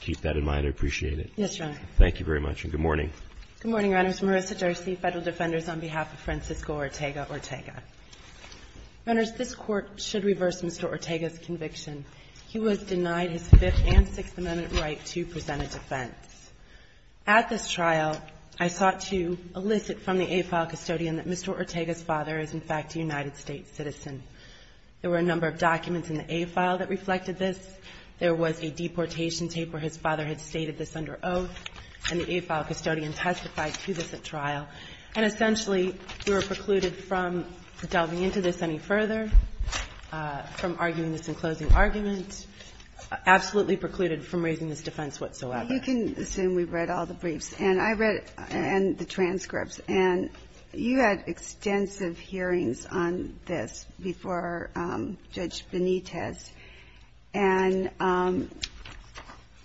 Keep that in mind. I appreciate it. Yes, Your Honor. Thank you very much, and good morning. Good morning, Your Honors. Marissa Jersey, Federal Defenders, on behalf of Francisco Ortega-Ortega. Your Honors, this Court should reverse Mr. Ortega's conviction. He was denied his Fifth and Sixth Amendment right to present a defense. At this trial, I sought to elicit from the AFILE custodian that Mr. Ortega's father is, in fact, a United States citizen. There were a number of documents in the AFILE that reflected this. There was a deportation tape where his father had stated this under oath, and the AFILE custodian testified to this at trial. And essentially, we were precluded from delving into this any further, from arguing this in closing argument, absolutely precluded from raising this defense whatsoever. You can assume we've read all the briefs, and I read the transcripts. And you had extensive hearings on this before Judge Benitez. And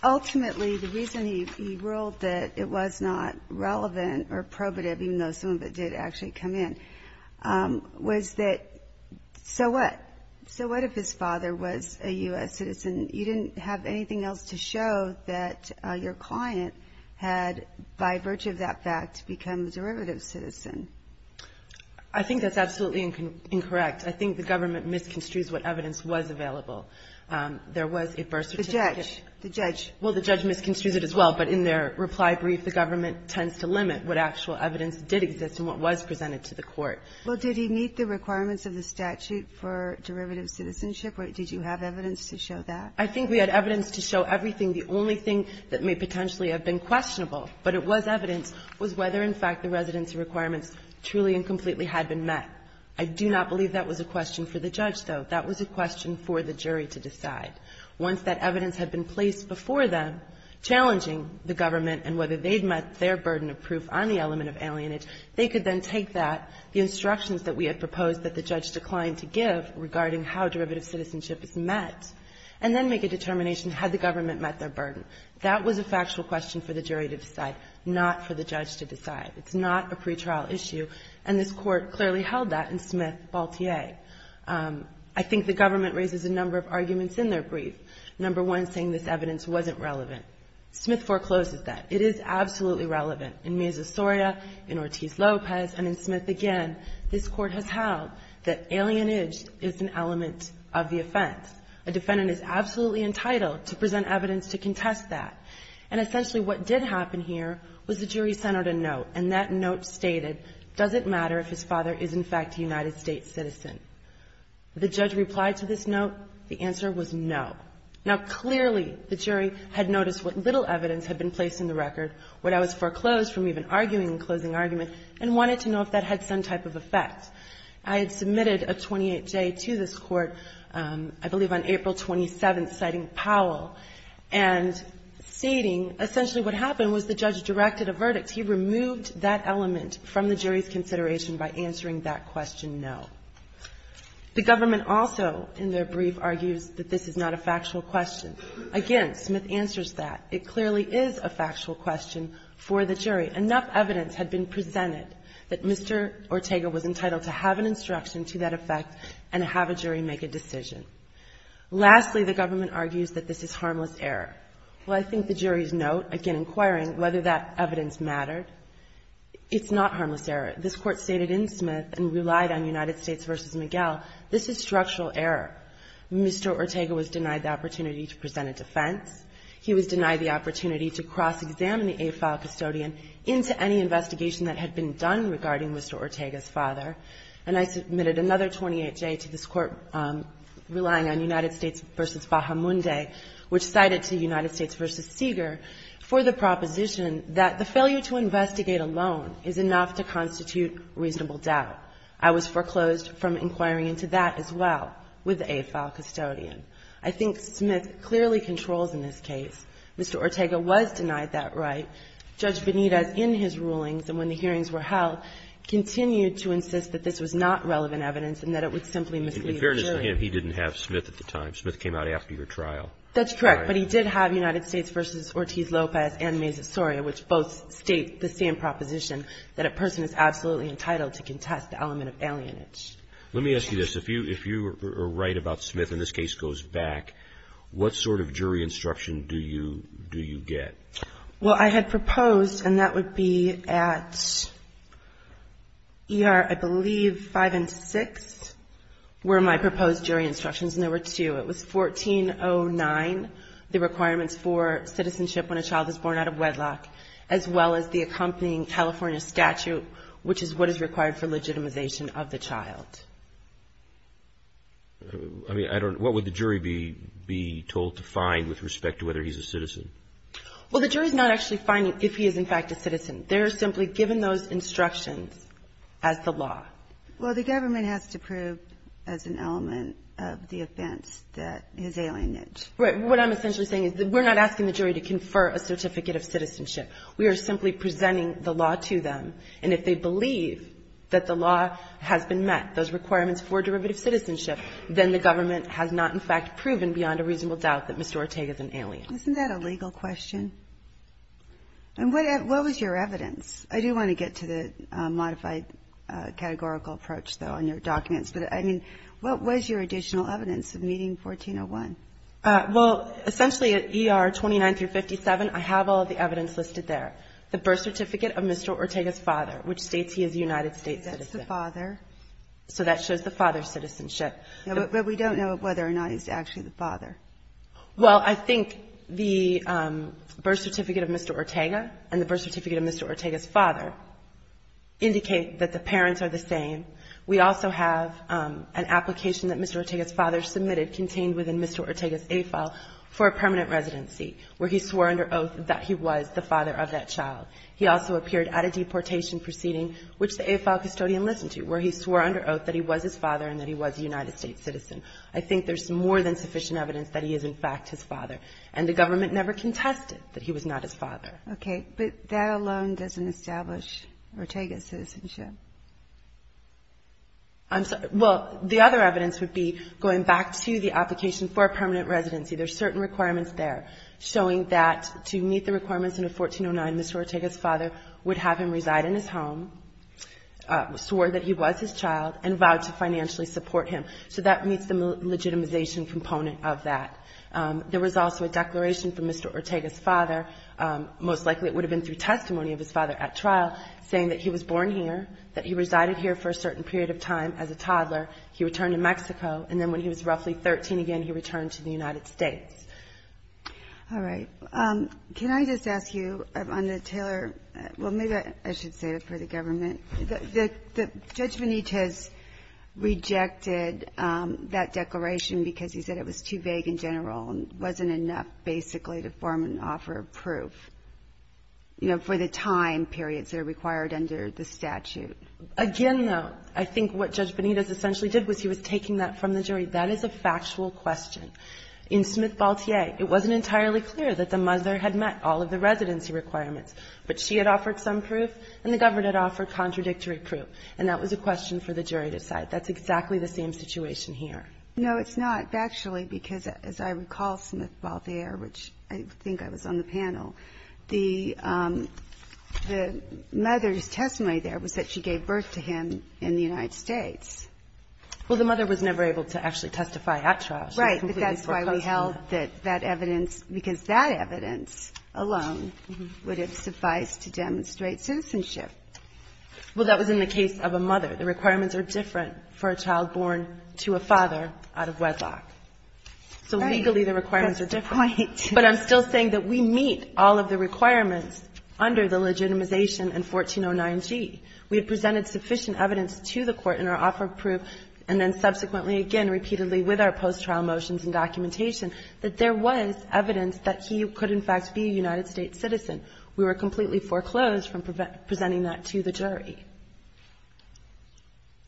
ultimately, the reason he ruled that it was not relevant or probative, even though some of it did actually come in, was that so what? So what if his father was a U.S. citizen? You didn't have anything else to show that your client had, by virtue of that fact, become a derivative citizen. I think that's absolutely incorrect. I think the government misconstrues what evidence was available. There was a birth certificate. The judge. Well, the judge misconstrues it as well. But in their reply brief, the government tends to limit what actual evidence did exist and what was presented to the court. Well, did he meet the requirements of the statute for derivative citizenship, or did you have evidence to show that? I think we had evidence to show everything. The only thing that may potentially have been questionable, but it was evidence, was whether, in fact, the residency requirements truly and completely had been met. I do not believe that was a question for the judge, though. That was a question for the jury to decide. Once that evidence had been placed before them, challenging the government and whether they'd met their burden of proof on the element of alienage, they could then take that, the instructions that we had proposed that the judge declined to give regarding how derivative citizenship is met, and then make a determination had the government met their burden. That was a factual question for the jury to decide, not for the judge to decide. It's not a pretrial issue, and this Court clearly held that in Smith v. Baltier. I think the government raises a number of arguments in their brief, number one, saying this evidence wasn't relevant. Smith forecloses that. It is absolutely relevant. In Meza-Soria, in Ortiz-Lopez, and in Smith again, this Court has held that alienage is an element of the offense. A defendant is absolutely entitled to present evidence to contest that. And essentially what did happen here was the jury sent out a note, and that note stated, does it matter if his father is, in fact, a United States citizen? The judge replied to this note. The answer was no. Now, clearly the jury had noticed what little evidence had been placed in the record, what I was foreclosed from even arguing in closing argument, and wanted to know if that had some type of effect. I had submitted a 28-J to this Court, I believe on April 27th, citing Powell, and stating essentially what happened was the judge directed a verdict. He removed that element from the jury's consideration by answering that question no. The government also, in their brief, argues that this is not a factual question. Again, Smith answers that. It clearly is a factual question for the jury. Enough evidence had been presented that Mr. Ortega was entitled to have an instruction to that effect and have a jury make a decision. Lastly, the government argues that this is harmless error. Well, I think the jury's note, again inquiring whether that evidence mattered, it's not harmless error. This Court stated in Smith and relied on United States v. Miguel, this is structural error. Mr. Ortega was denied the opportunity to present a defense. He was denied the opportunity to cross-examine the AFILE custodian into any investigation that had been done regarding Mr. Ortega's father. And I submitted another 28-J to this Court relying on United States v. Bahamunde, which cited to United States v. Seeger for the proposition that the failure to investigate alone is enough to constitute reasonable doubt. I was foreclosed from inquiring into that as well with the AFILE custodian. I think Smith clearly controls in this case. Mr. Ortega was denied that right. Judge Benitez, in his rulings and when the hearings were held, continued to insist that this was not relevant evidence and that it would simply mislead the jury. Roberts. In fairness to him, he didn't have Smith at the time. Smith came out after your trial. That's correct. But he did have United States v. Ortiz-Lopez and Mesa-Soria, which both state the same proposition that a person is absolutely entitled to contest the element of alienage. Let me ask you this. If you are right about Smith and this case goes back, what sort of jury instruction do you get? Well, I had proposed, and that would be at E.R., I believe, 5 and 6 were my proposed jury instructions, and there were two. It was 1409, the requirements for citizenship when a child is born out of wedlock, as well as the accompanying California statute, which is what is required for legitimization of the child. I mean, I don't know. What would the jury be told to find with respect to whether he's a citizen? Well, the jury's not actually finding if he is, in fact, a citizen. They're simply given those instructions as the law. Well, the government has to prove as an element of the offense that he's alienage. Right. What I'm essentially saying is that we're not asking the jury to confer a certificate of citizenship. We are simply presenting the law to them, and if they believe that the law has been met, those requirements for derivative citizenship, then the government has not, in fact, proven beyond a reasonable doubt that Mr. Ortega is an alien. Isn't that a legal question? And what was your evidence? I do want to get to the modified categorical approach, though, on your documents. But, I mean, what was your additional evidence of meeting 1401? Well, essentially, at ER 29 through 57, I have all of the evidence listed there. The birth certificate of Mr. Ortega's father, which states he is a United States citizen. Is that the father? So that shows the father's citizenship. But we don't know whether or not he's actually the father. Well, I think the birth certificate of Mr. Ortega and the birth certificate of Mr. Ortega's father indicate that the parents are the same. We also have an application that Mr. Ortega's father submitted contained within Mr. Ortega's A file for a permanent residency, where he swore under oath that he was the father of that child. He also appeared at a deportation proceeding, which the A file custodian listened to, where he swore under oath that he was his father and that he was a United States citizen. I think there's more than sufficient evidence that he is, in fact, his father. And the government never contested that he was not his father. Okay. But that alone doesn't establish Ortega's citizenship. I'm sorry. Well, the other evidence would be going back to the application for a permanent residency. There's certain requirements there showing that to meet the requirements under 1409, Mr. Ortega's father would have him reside in his home, swore that he was his child, and vowed to financially support him. So that meets the legitimization component of that. There was also a declaration from Mr. Ortega's father, most likely it would have been through testimony of his father at trial, saying that he was born here, that he resided here for a certain period of time as a toddler. He returned to Mexico. And then when he was roughly 13 again, he returned to the United States. All right. Can I just ask you, on the Taylor? Well, maybe I should say it for the government. Judge Benitez rejected that declaration because he said it was too vague in general and wasn't enough basically to form an offer of proof, you know, for the time periods that are required under the statute. Again, though, I think what Judge Benitez essentially did was he was taking that from the jury. That is a factual question. In Smith-Baltier, it wasn't entirely clear that the mother had met all of the residency requirements. But she had offered some proof, and the government had offered contradictory proof. And that was a question for the jury to cite. That's exactly the same situation here. No, it's not factually because, as I recall, Smith-Baltier, which I think I was on the panel, the mother's testimony there was that she gave birth to him in the United States. Well, the mother was never able to actually testify at trial. She was completely foreclosed on that. Right. And so the question is, how does the mother's testimony suffice to demonstrate citizenship? Well, that was in the case of a mother. The requirements are different for a child born to a father out of wedlock. So legally the requirements are different. Right. Good point. But I'm still saying that we meet all of the requirements under the legitimization in 1409g. We had presented sufficient evidence to the Court in our offer of proof, and then completely foreclosed from presenting that to the jury.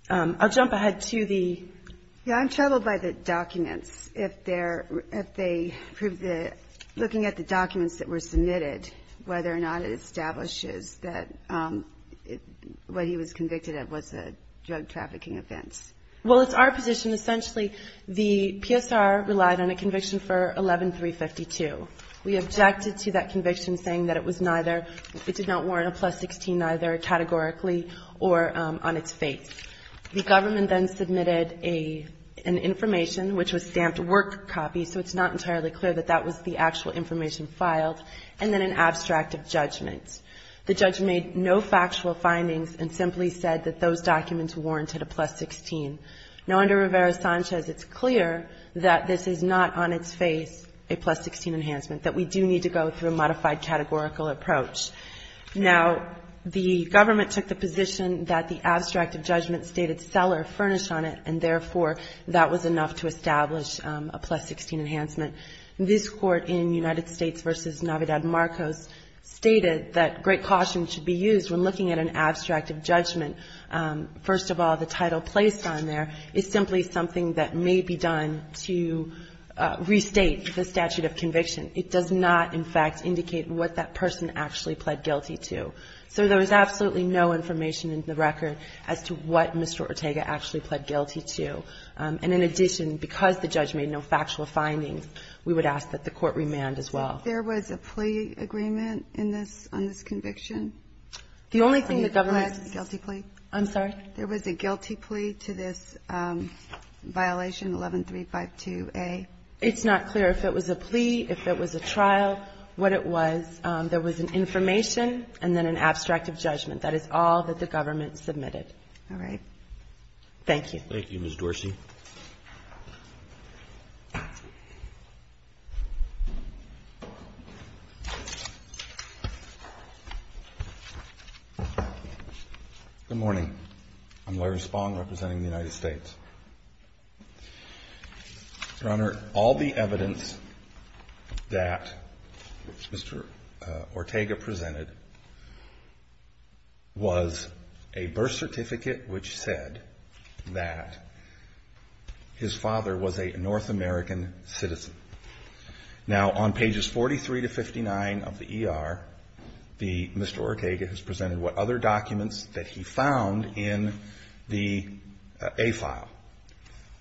I'll jump ahead to the ‑‑ Yeah, I'm troubled by the documents. If they prove the ‑‑ looking at the documents that were submitted, whether or not it establishes that what he was convicted of was a drug trafficking offense. Well, it's our position essentially the PSR relied on a conviction for 11352. We objected to that conviction saying that it was neither ‑‑ it did not warrant a plus 16 either categorically or on its face. The government then submitted an information, which was stamped work copy, so it's not entirely clear that that was the actual information filed, and then an abstract of judgment. The judge made no factual findings and simply said that those documents warranted a plus 16. Now, under Rivera-Sanchez, it's clear that this is not on its face a plus 16 enhancement, that we do need to go through a modified categorical approach. Now, the government took the position that the abstract of judgment stated seller furnished on it, and therefore, that was enough to establish a plus 16 enhancement. This Court in United States v. Navidad Marcos stated that great caution should be used when looking at an abstract of judgment. First of all, the title placed on there is simply something that may be done to restate the statute of conviction. It does not, in fact, indicate what that person actually pled guilty to. So there was absolutely no information in the record as to what Mr. Ortega actually pled guilty to. And in addition, because the judge made no factual findings, we would ask that the Court remand as well. There was a plea agreement in this ‑‑ on this conviction? The only thing the government ‑‑ Are you going to pledge a guilty plea? I'm sorry? There was a guilty plea to this violation 11352A. It's not clear if it was a plea, if it was a trial, what it was. There was an information and then an abstract of judgment. That is all that the government submitted. All right. Thank you. Thank you, Ms. Dorsey. Good morning. I'm Larry Spong representing the United States. Your Honor, all the evidence that Mr. Ortega presented was a birth certificate which said that his father was a North American citizen. Now, on pages 43 to 59 of the ER, Mr. Ortega has presented what other documents that he found in the A file,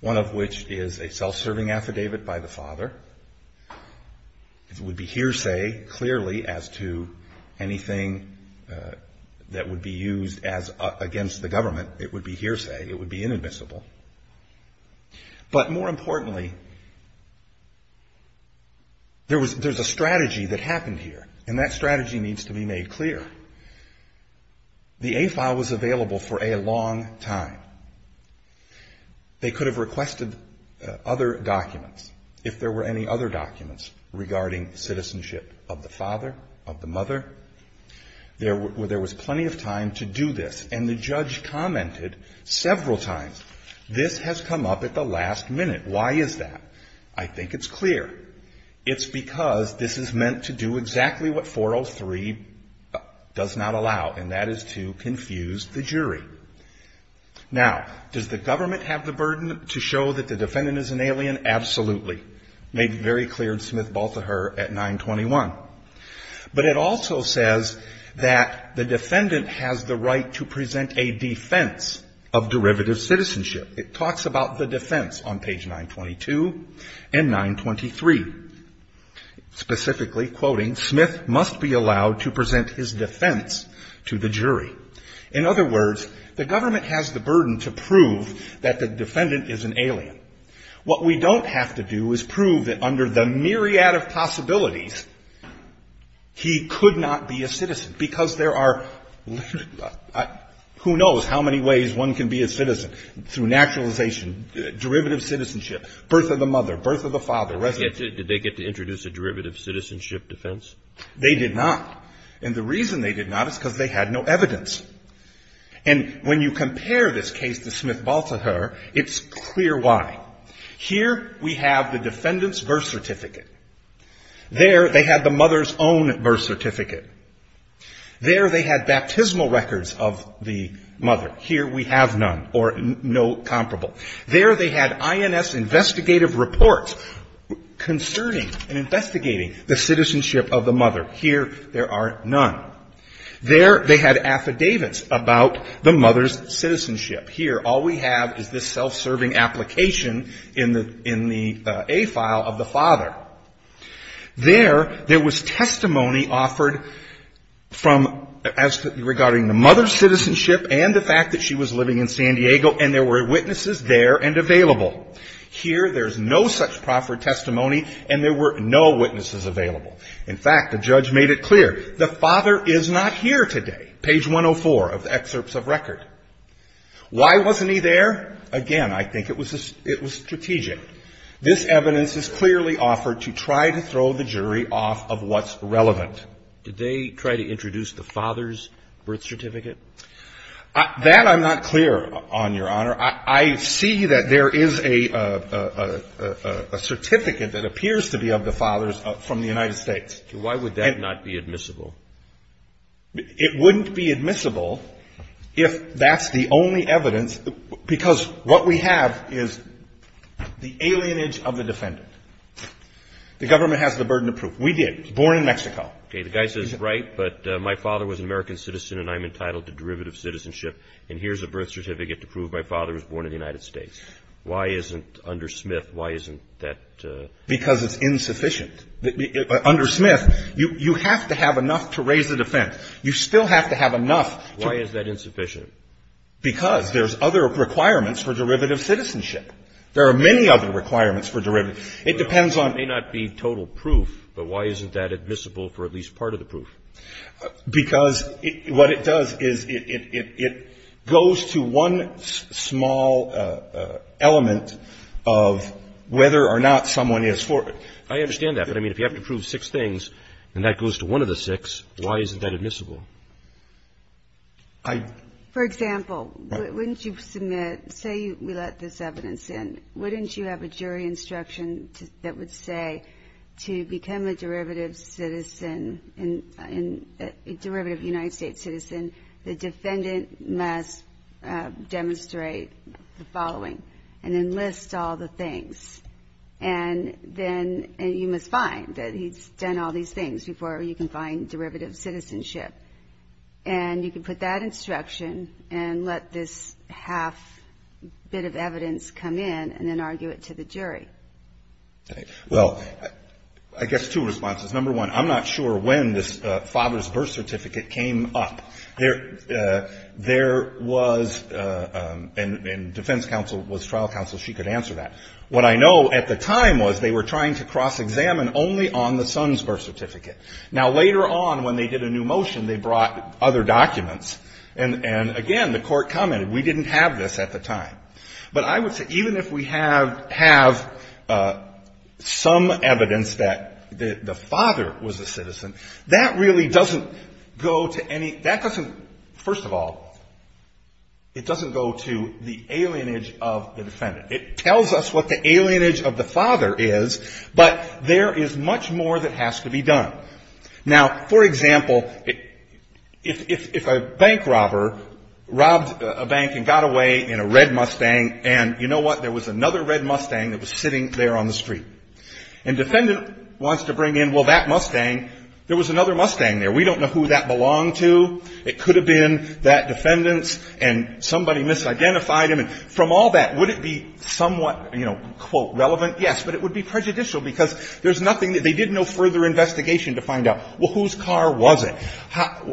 one of which is a self‑serving affidavit by the father. It would be hearsay, clearly, as to anything that would be used against the government. It would be hearsay. It would be inadmissible. But more importantly, there's a strategy that happened here, and that strategy needs to be made clear. The A file was available for a long time. They could have requested other documents, if there were any other documents regarding citizenship of the father, of the mother. There was plenty of time to do this. And the judge commented several times, this has come up at the last minute. Why is that? I think it's clear. It's because this is meant to do exactly what 403 does not allow, and that is to confuse the jury. Now, does the government have the burden to show that the defendant is an alien? Absolutely. Made very clear in Smith‑Balthaher at 921. But it also says that the defendant has the right to present a defense of derivative citizenship. It talks about the defense on page 922 and 923. Specifically, quoting, Smith must be allowed to present his defense to the jury. In other words, the government has the burden to prove that the defendant is an alien. What we don't have to do is prove that under the myriad of possibilities, he could not be a citizen, because there are, who knows how many ways one can be a citizen, through naturalization, derivative citizenship, birth of the mother, birth of the father, residency. Did they get to introduce a derivative citizenship defense? They did not. And the reason they did not is because they had no evidence. And when you compare this case to Smith‑Balthaher, it's clear why. Here, we have the defendant's birth certificate. There, they had the mother's own birth certificate. There, they had baptismal records of the mother. Here, we have none, or no comparable. There, they had INS investigative reports concerning and investigating the citizenship of the mother. Here, there are none. There, they had affidavits about the mother's citizenship. Here, all we have is this self‑serving application in the A file of the father. There, there was testimony offered from ‑‑ regarding the mother's citizenship and the fact that she was living in San Diego, and there were witnesses there and available. Here, there's no such proffered testimony, and there were no witnesses available. In fact, the judge made it clear, the father is not here today, page 104 of the excerpts of record. Why wasn't he there? Again, I think it was strategic. This evidence is clearly offered to try to throw the jury off of what's relevant. Did they try to introduce the father's birth certificate? That I'm not clear on, Your Honor. I see that there is a certificate that appears to be of the father's from the United States. Why would that not be admissible? It wouldn't be admissible if that's the only evidence, because what we have is the alienage of the defendant. The government has the burden of proof. We did. Born in Mexico. Okay. The guy says, right, but my father was an American citizen, and I'm entitled to derivative citizenship, and here's a birth certificate to prove my father was born in the United States. Why isn't under Smith, why isn't that? Because it's insufficient. Under Smith, you have to have enough to raise the defense. You still have to have enough to raise the defense. Why is that insufficient? Because there's other requirements for derivative citizenship. There are many other requirements for derivative. It depends on. It may not be total proof, but why isn't that admissible for at least part of the proof? Because what it does is it goes to one small element of whether or not someone is for it. I understand that. But, I mean, if you have to prove six things, and that goes to one of the six, why isn't that admissible? For example, wouldn't you submit, say we let this evidence in. Wouldn't you have a jury instruction that would say to become a derivative citizen, a derivative United States citizen, the defendant must demonstrate the following and enlist all the things. And then you must find that he's done all these things before you can find derivative citizenship. And you can put that instruction and let this half bit of evidence come in and then argue it to the jury. Well, I guess two responses. Number one, I'm not sure when this father's birth certificate came up. There was, and defense counsel was trial counsel, she could answer that. What I know at the time was they were trying to cross-examine only on the son's birth certificate. Now, later on when they did a new motion, they brought other documents. And, again, the Court commented we didn't have this at the time. But I would say even if we have some evidence that the father was a citizen, that really doesn't go to any, that doesn't, first of all, it doesn't go to the alienage of the defendant. It tells us what the alienage of the father is, but there is much more that has to be done. Now, for example, if a bank robber robbed a bank and got away in a red Mustang and, you know what, there was another red Mustang that was sitting there on the street. And defendant wants to bring in, well, that Mustang, there was another Mustang there. We don't know who that belonged to. It could have been that defendant's and somebody misidentified him. And from all that, would it be somewhat, you know, quote, relevant? Yes. But it would be prejudicial because there's nothing, they did no further investigation to find out, well, whose car was it?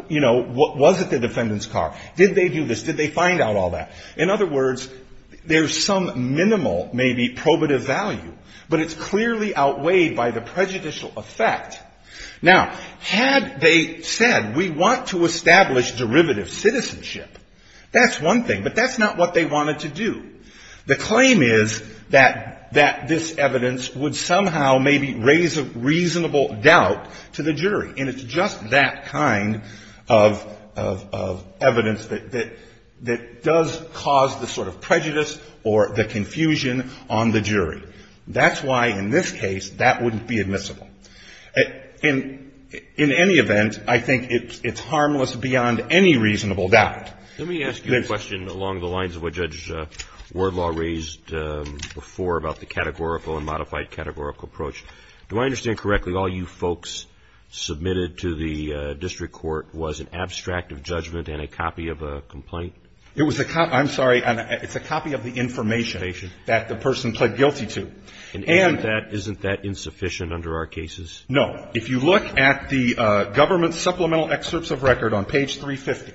You know, was it the defendant's car? Did they do this? Did they find out all that? In other words, there's some minimal, maybe probative value, but it's clearly outweighed by the prejudicial effect. Now, had they said we want to establish derivative citizenship, that's one thing. But that's not what they wanted to do. The claim is that this evidence would somehow maybe raise a reasonable doubt to the jury. And it's just that kind of evidence that does cause the sort of prejudice or the confusion on the jury. That's why, in this case, that wouldn't be admissible. In any event, I think it's harmless beyond any reasonable doubt. Let me ask you a question along the lines of what Judge Wardlaw raised before about the categorical and modified categorical approach. Do I understand correctly, all you folks submitted to the district court was an abstract of judgment and a copy of a complaint? It was a copy, I'm sorry, it's a copy of the information that the person pled guilty to. And isn't that insufficient under our cases? No. If you look at the government supplemental excerpts of record on page 350,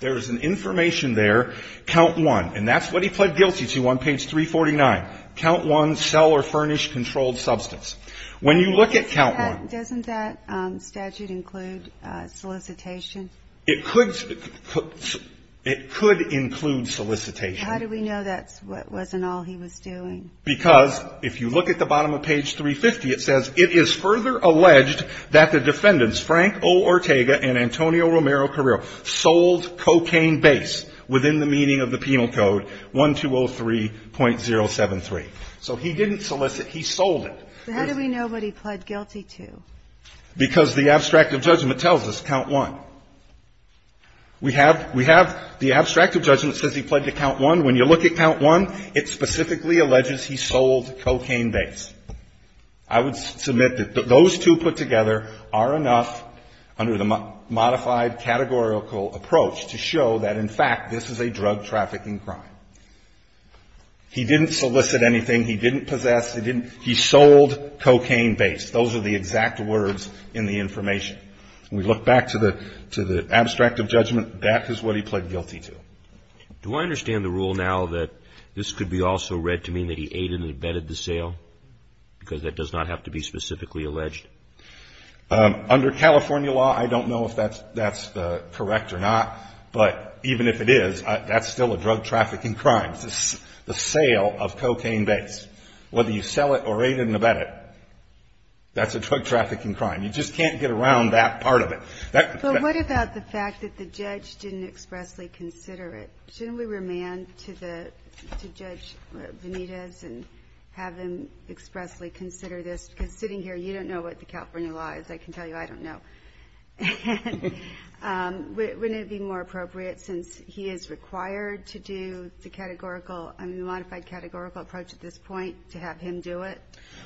there is an information there, count one. And that's what he pled guilty to on page 349. Count one, sell or furnish controlled substance. When you look at count one. Doesn't that statute include solicitation? It could include solicitation. How do we know that wasn't all he was doing? Because if you look at the bottom of page 350, it says, it is further alleged that the defendants, Frank O. Ortega and Antonio Romero Carrillo, sold cocaine base within the meaning of the penal code, 1203.073. So he didn't solicit, he sold it. So how do we know what he pled guilty to? Because the abstract of judgment tells us, count one. We have the abstract of judgment says he pled to count one. When you look at count one, it specifically alleges he sold cocaine base. I would submit that those two put together are enough under the modified categorical approach to show that, in fact, this is a drug trafficking crime. He didn't solicit anything. He didn't possess. He sold cocaine base. Those are the exact words in the information. When we look back to the abstract of judgment, that is what he pled guilty to. Do I understand the rule now that this could be also read to mean that he ate and abetted the sale? Because that does not have to be specifically alleged. Under California law, I don't know if that's correct or not. But even if it is, that's still a drug trafficking crime, the sale of cocaine base. Whether you sell it or ate it and abetted it, that's a drug trafficking crime. You just can't get around that part of it. But what about the fact that the judge didn't expressly consider it? Shouldn't we remand to Judge Benitez and have him expressly consider this? Because sitting here, you don't know what the California law is. I can tell you I don't know. Wouldn't it be more appropriate, since he is required to do the categorical and the modified categorical approach at this point, to have him do it?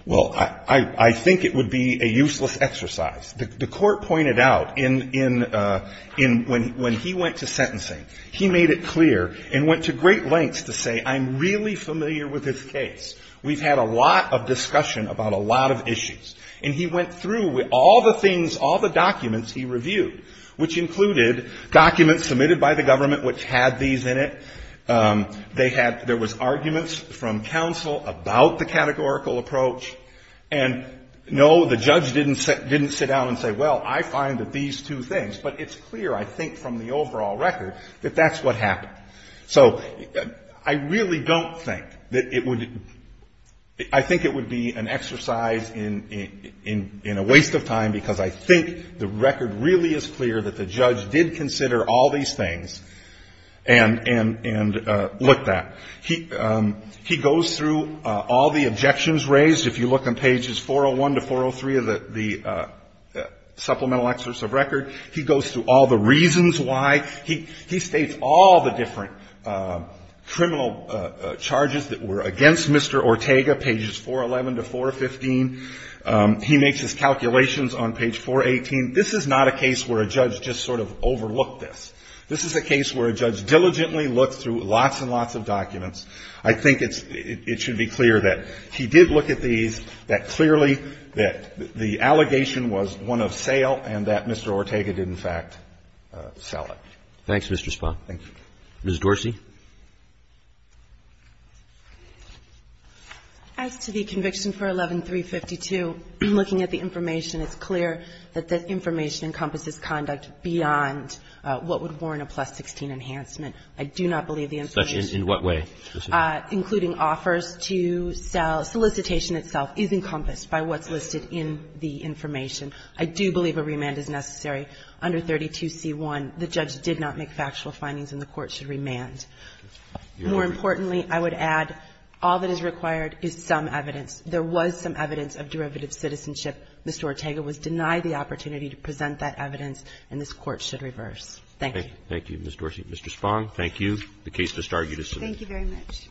Well, I think it would be a useless exercise. The court pointed out, when he went to sentencing, he made it clear and went to great lengths to say, I'm really familiar with this case. We've had a lot of discussion about a lot of issues. And he went through all the things, all the documents he reviewed, which included documents submitted by the government which had these in it. There was arguments from counsel about the categorical approach. And, no, the judge didn't sit down and say, well, I find that these two things. But it's clear, I think, from the overall record, that that's what happened. So I really don't think that it would be an exercise in a waste of time, because I think the record really is clear that the judge did consider all these things and looked at. He goes through all the objections raised. If you look on pages 401 to 403 of the supplemental excerpts of record, he goes through all the reasons why. He states all the different criminal charges that were against Mr. Ortega, pages 411 to 415. He makes his calculations on page 418. This is not a case where a judge just sort of overlooked this. This is a case where a judge diligently looked through lots and lots of documents. I think it's – it should be clear that he did look at these, that clearly that the allegation was one of sale and that Mr. Ortega did, in fact, sell it. Roberts. Thanks, Mr. Spahn. Thank you. Ms. Dorsey. As to the conviction for 11352, looking at the information, it's clear that that enhancement. I do not believe the information – In what way? Including offers to sell. Solicitation itself is encompassed by what's listed in the information. I do believe a remand is necessary. Under 32c1, the judge did not make factual findings and the Court should remand. More importantly, I would add, all that is required is some evidence. There was some evidence of derivative citizenship. Mr. Ortega was denied the opportunity to present that evidence, and this Court should Thank you. Thank you, Ms. Dorsey. Mr. Spahn, thank you. The case disargued is submitted. Thank you very much.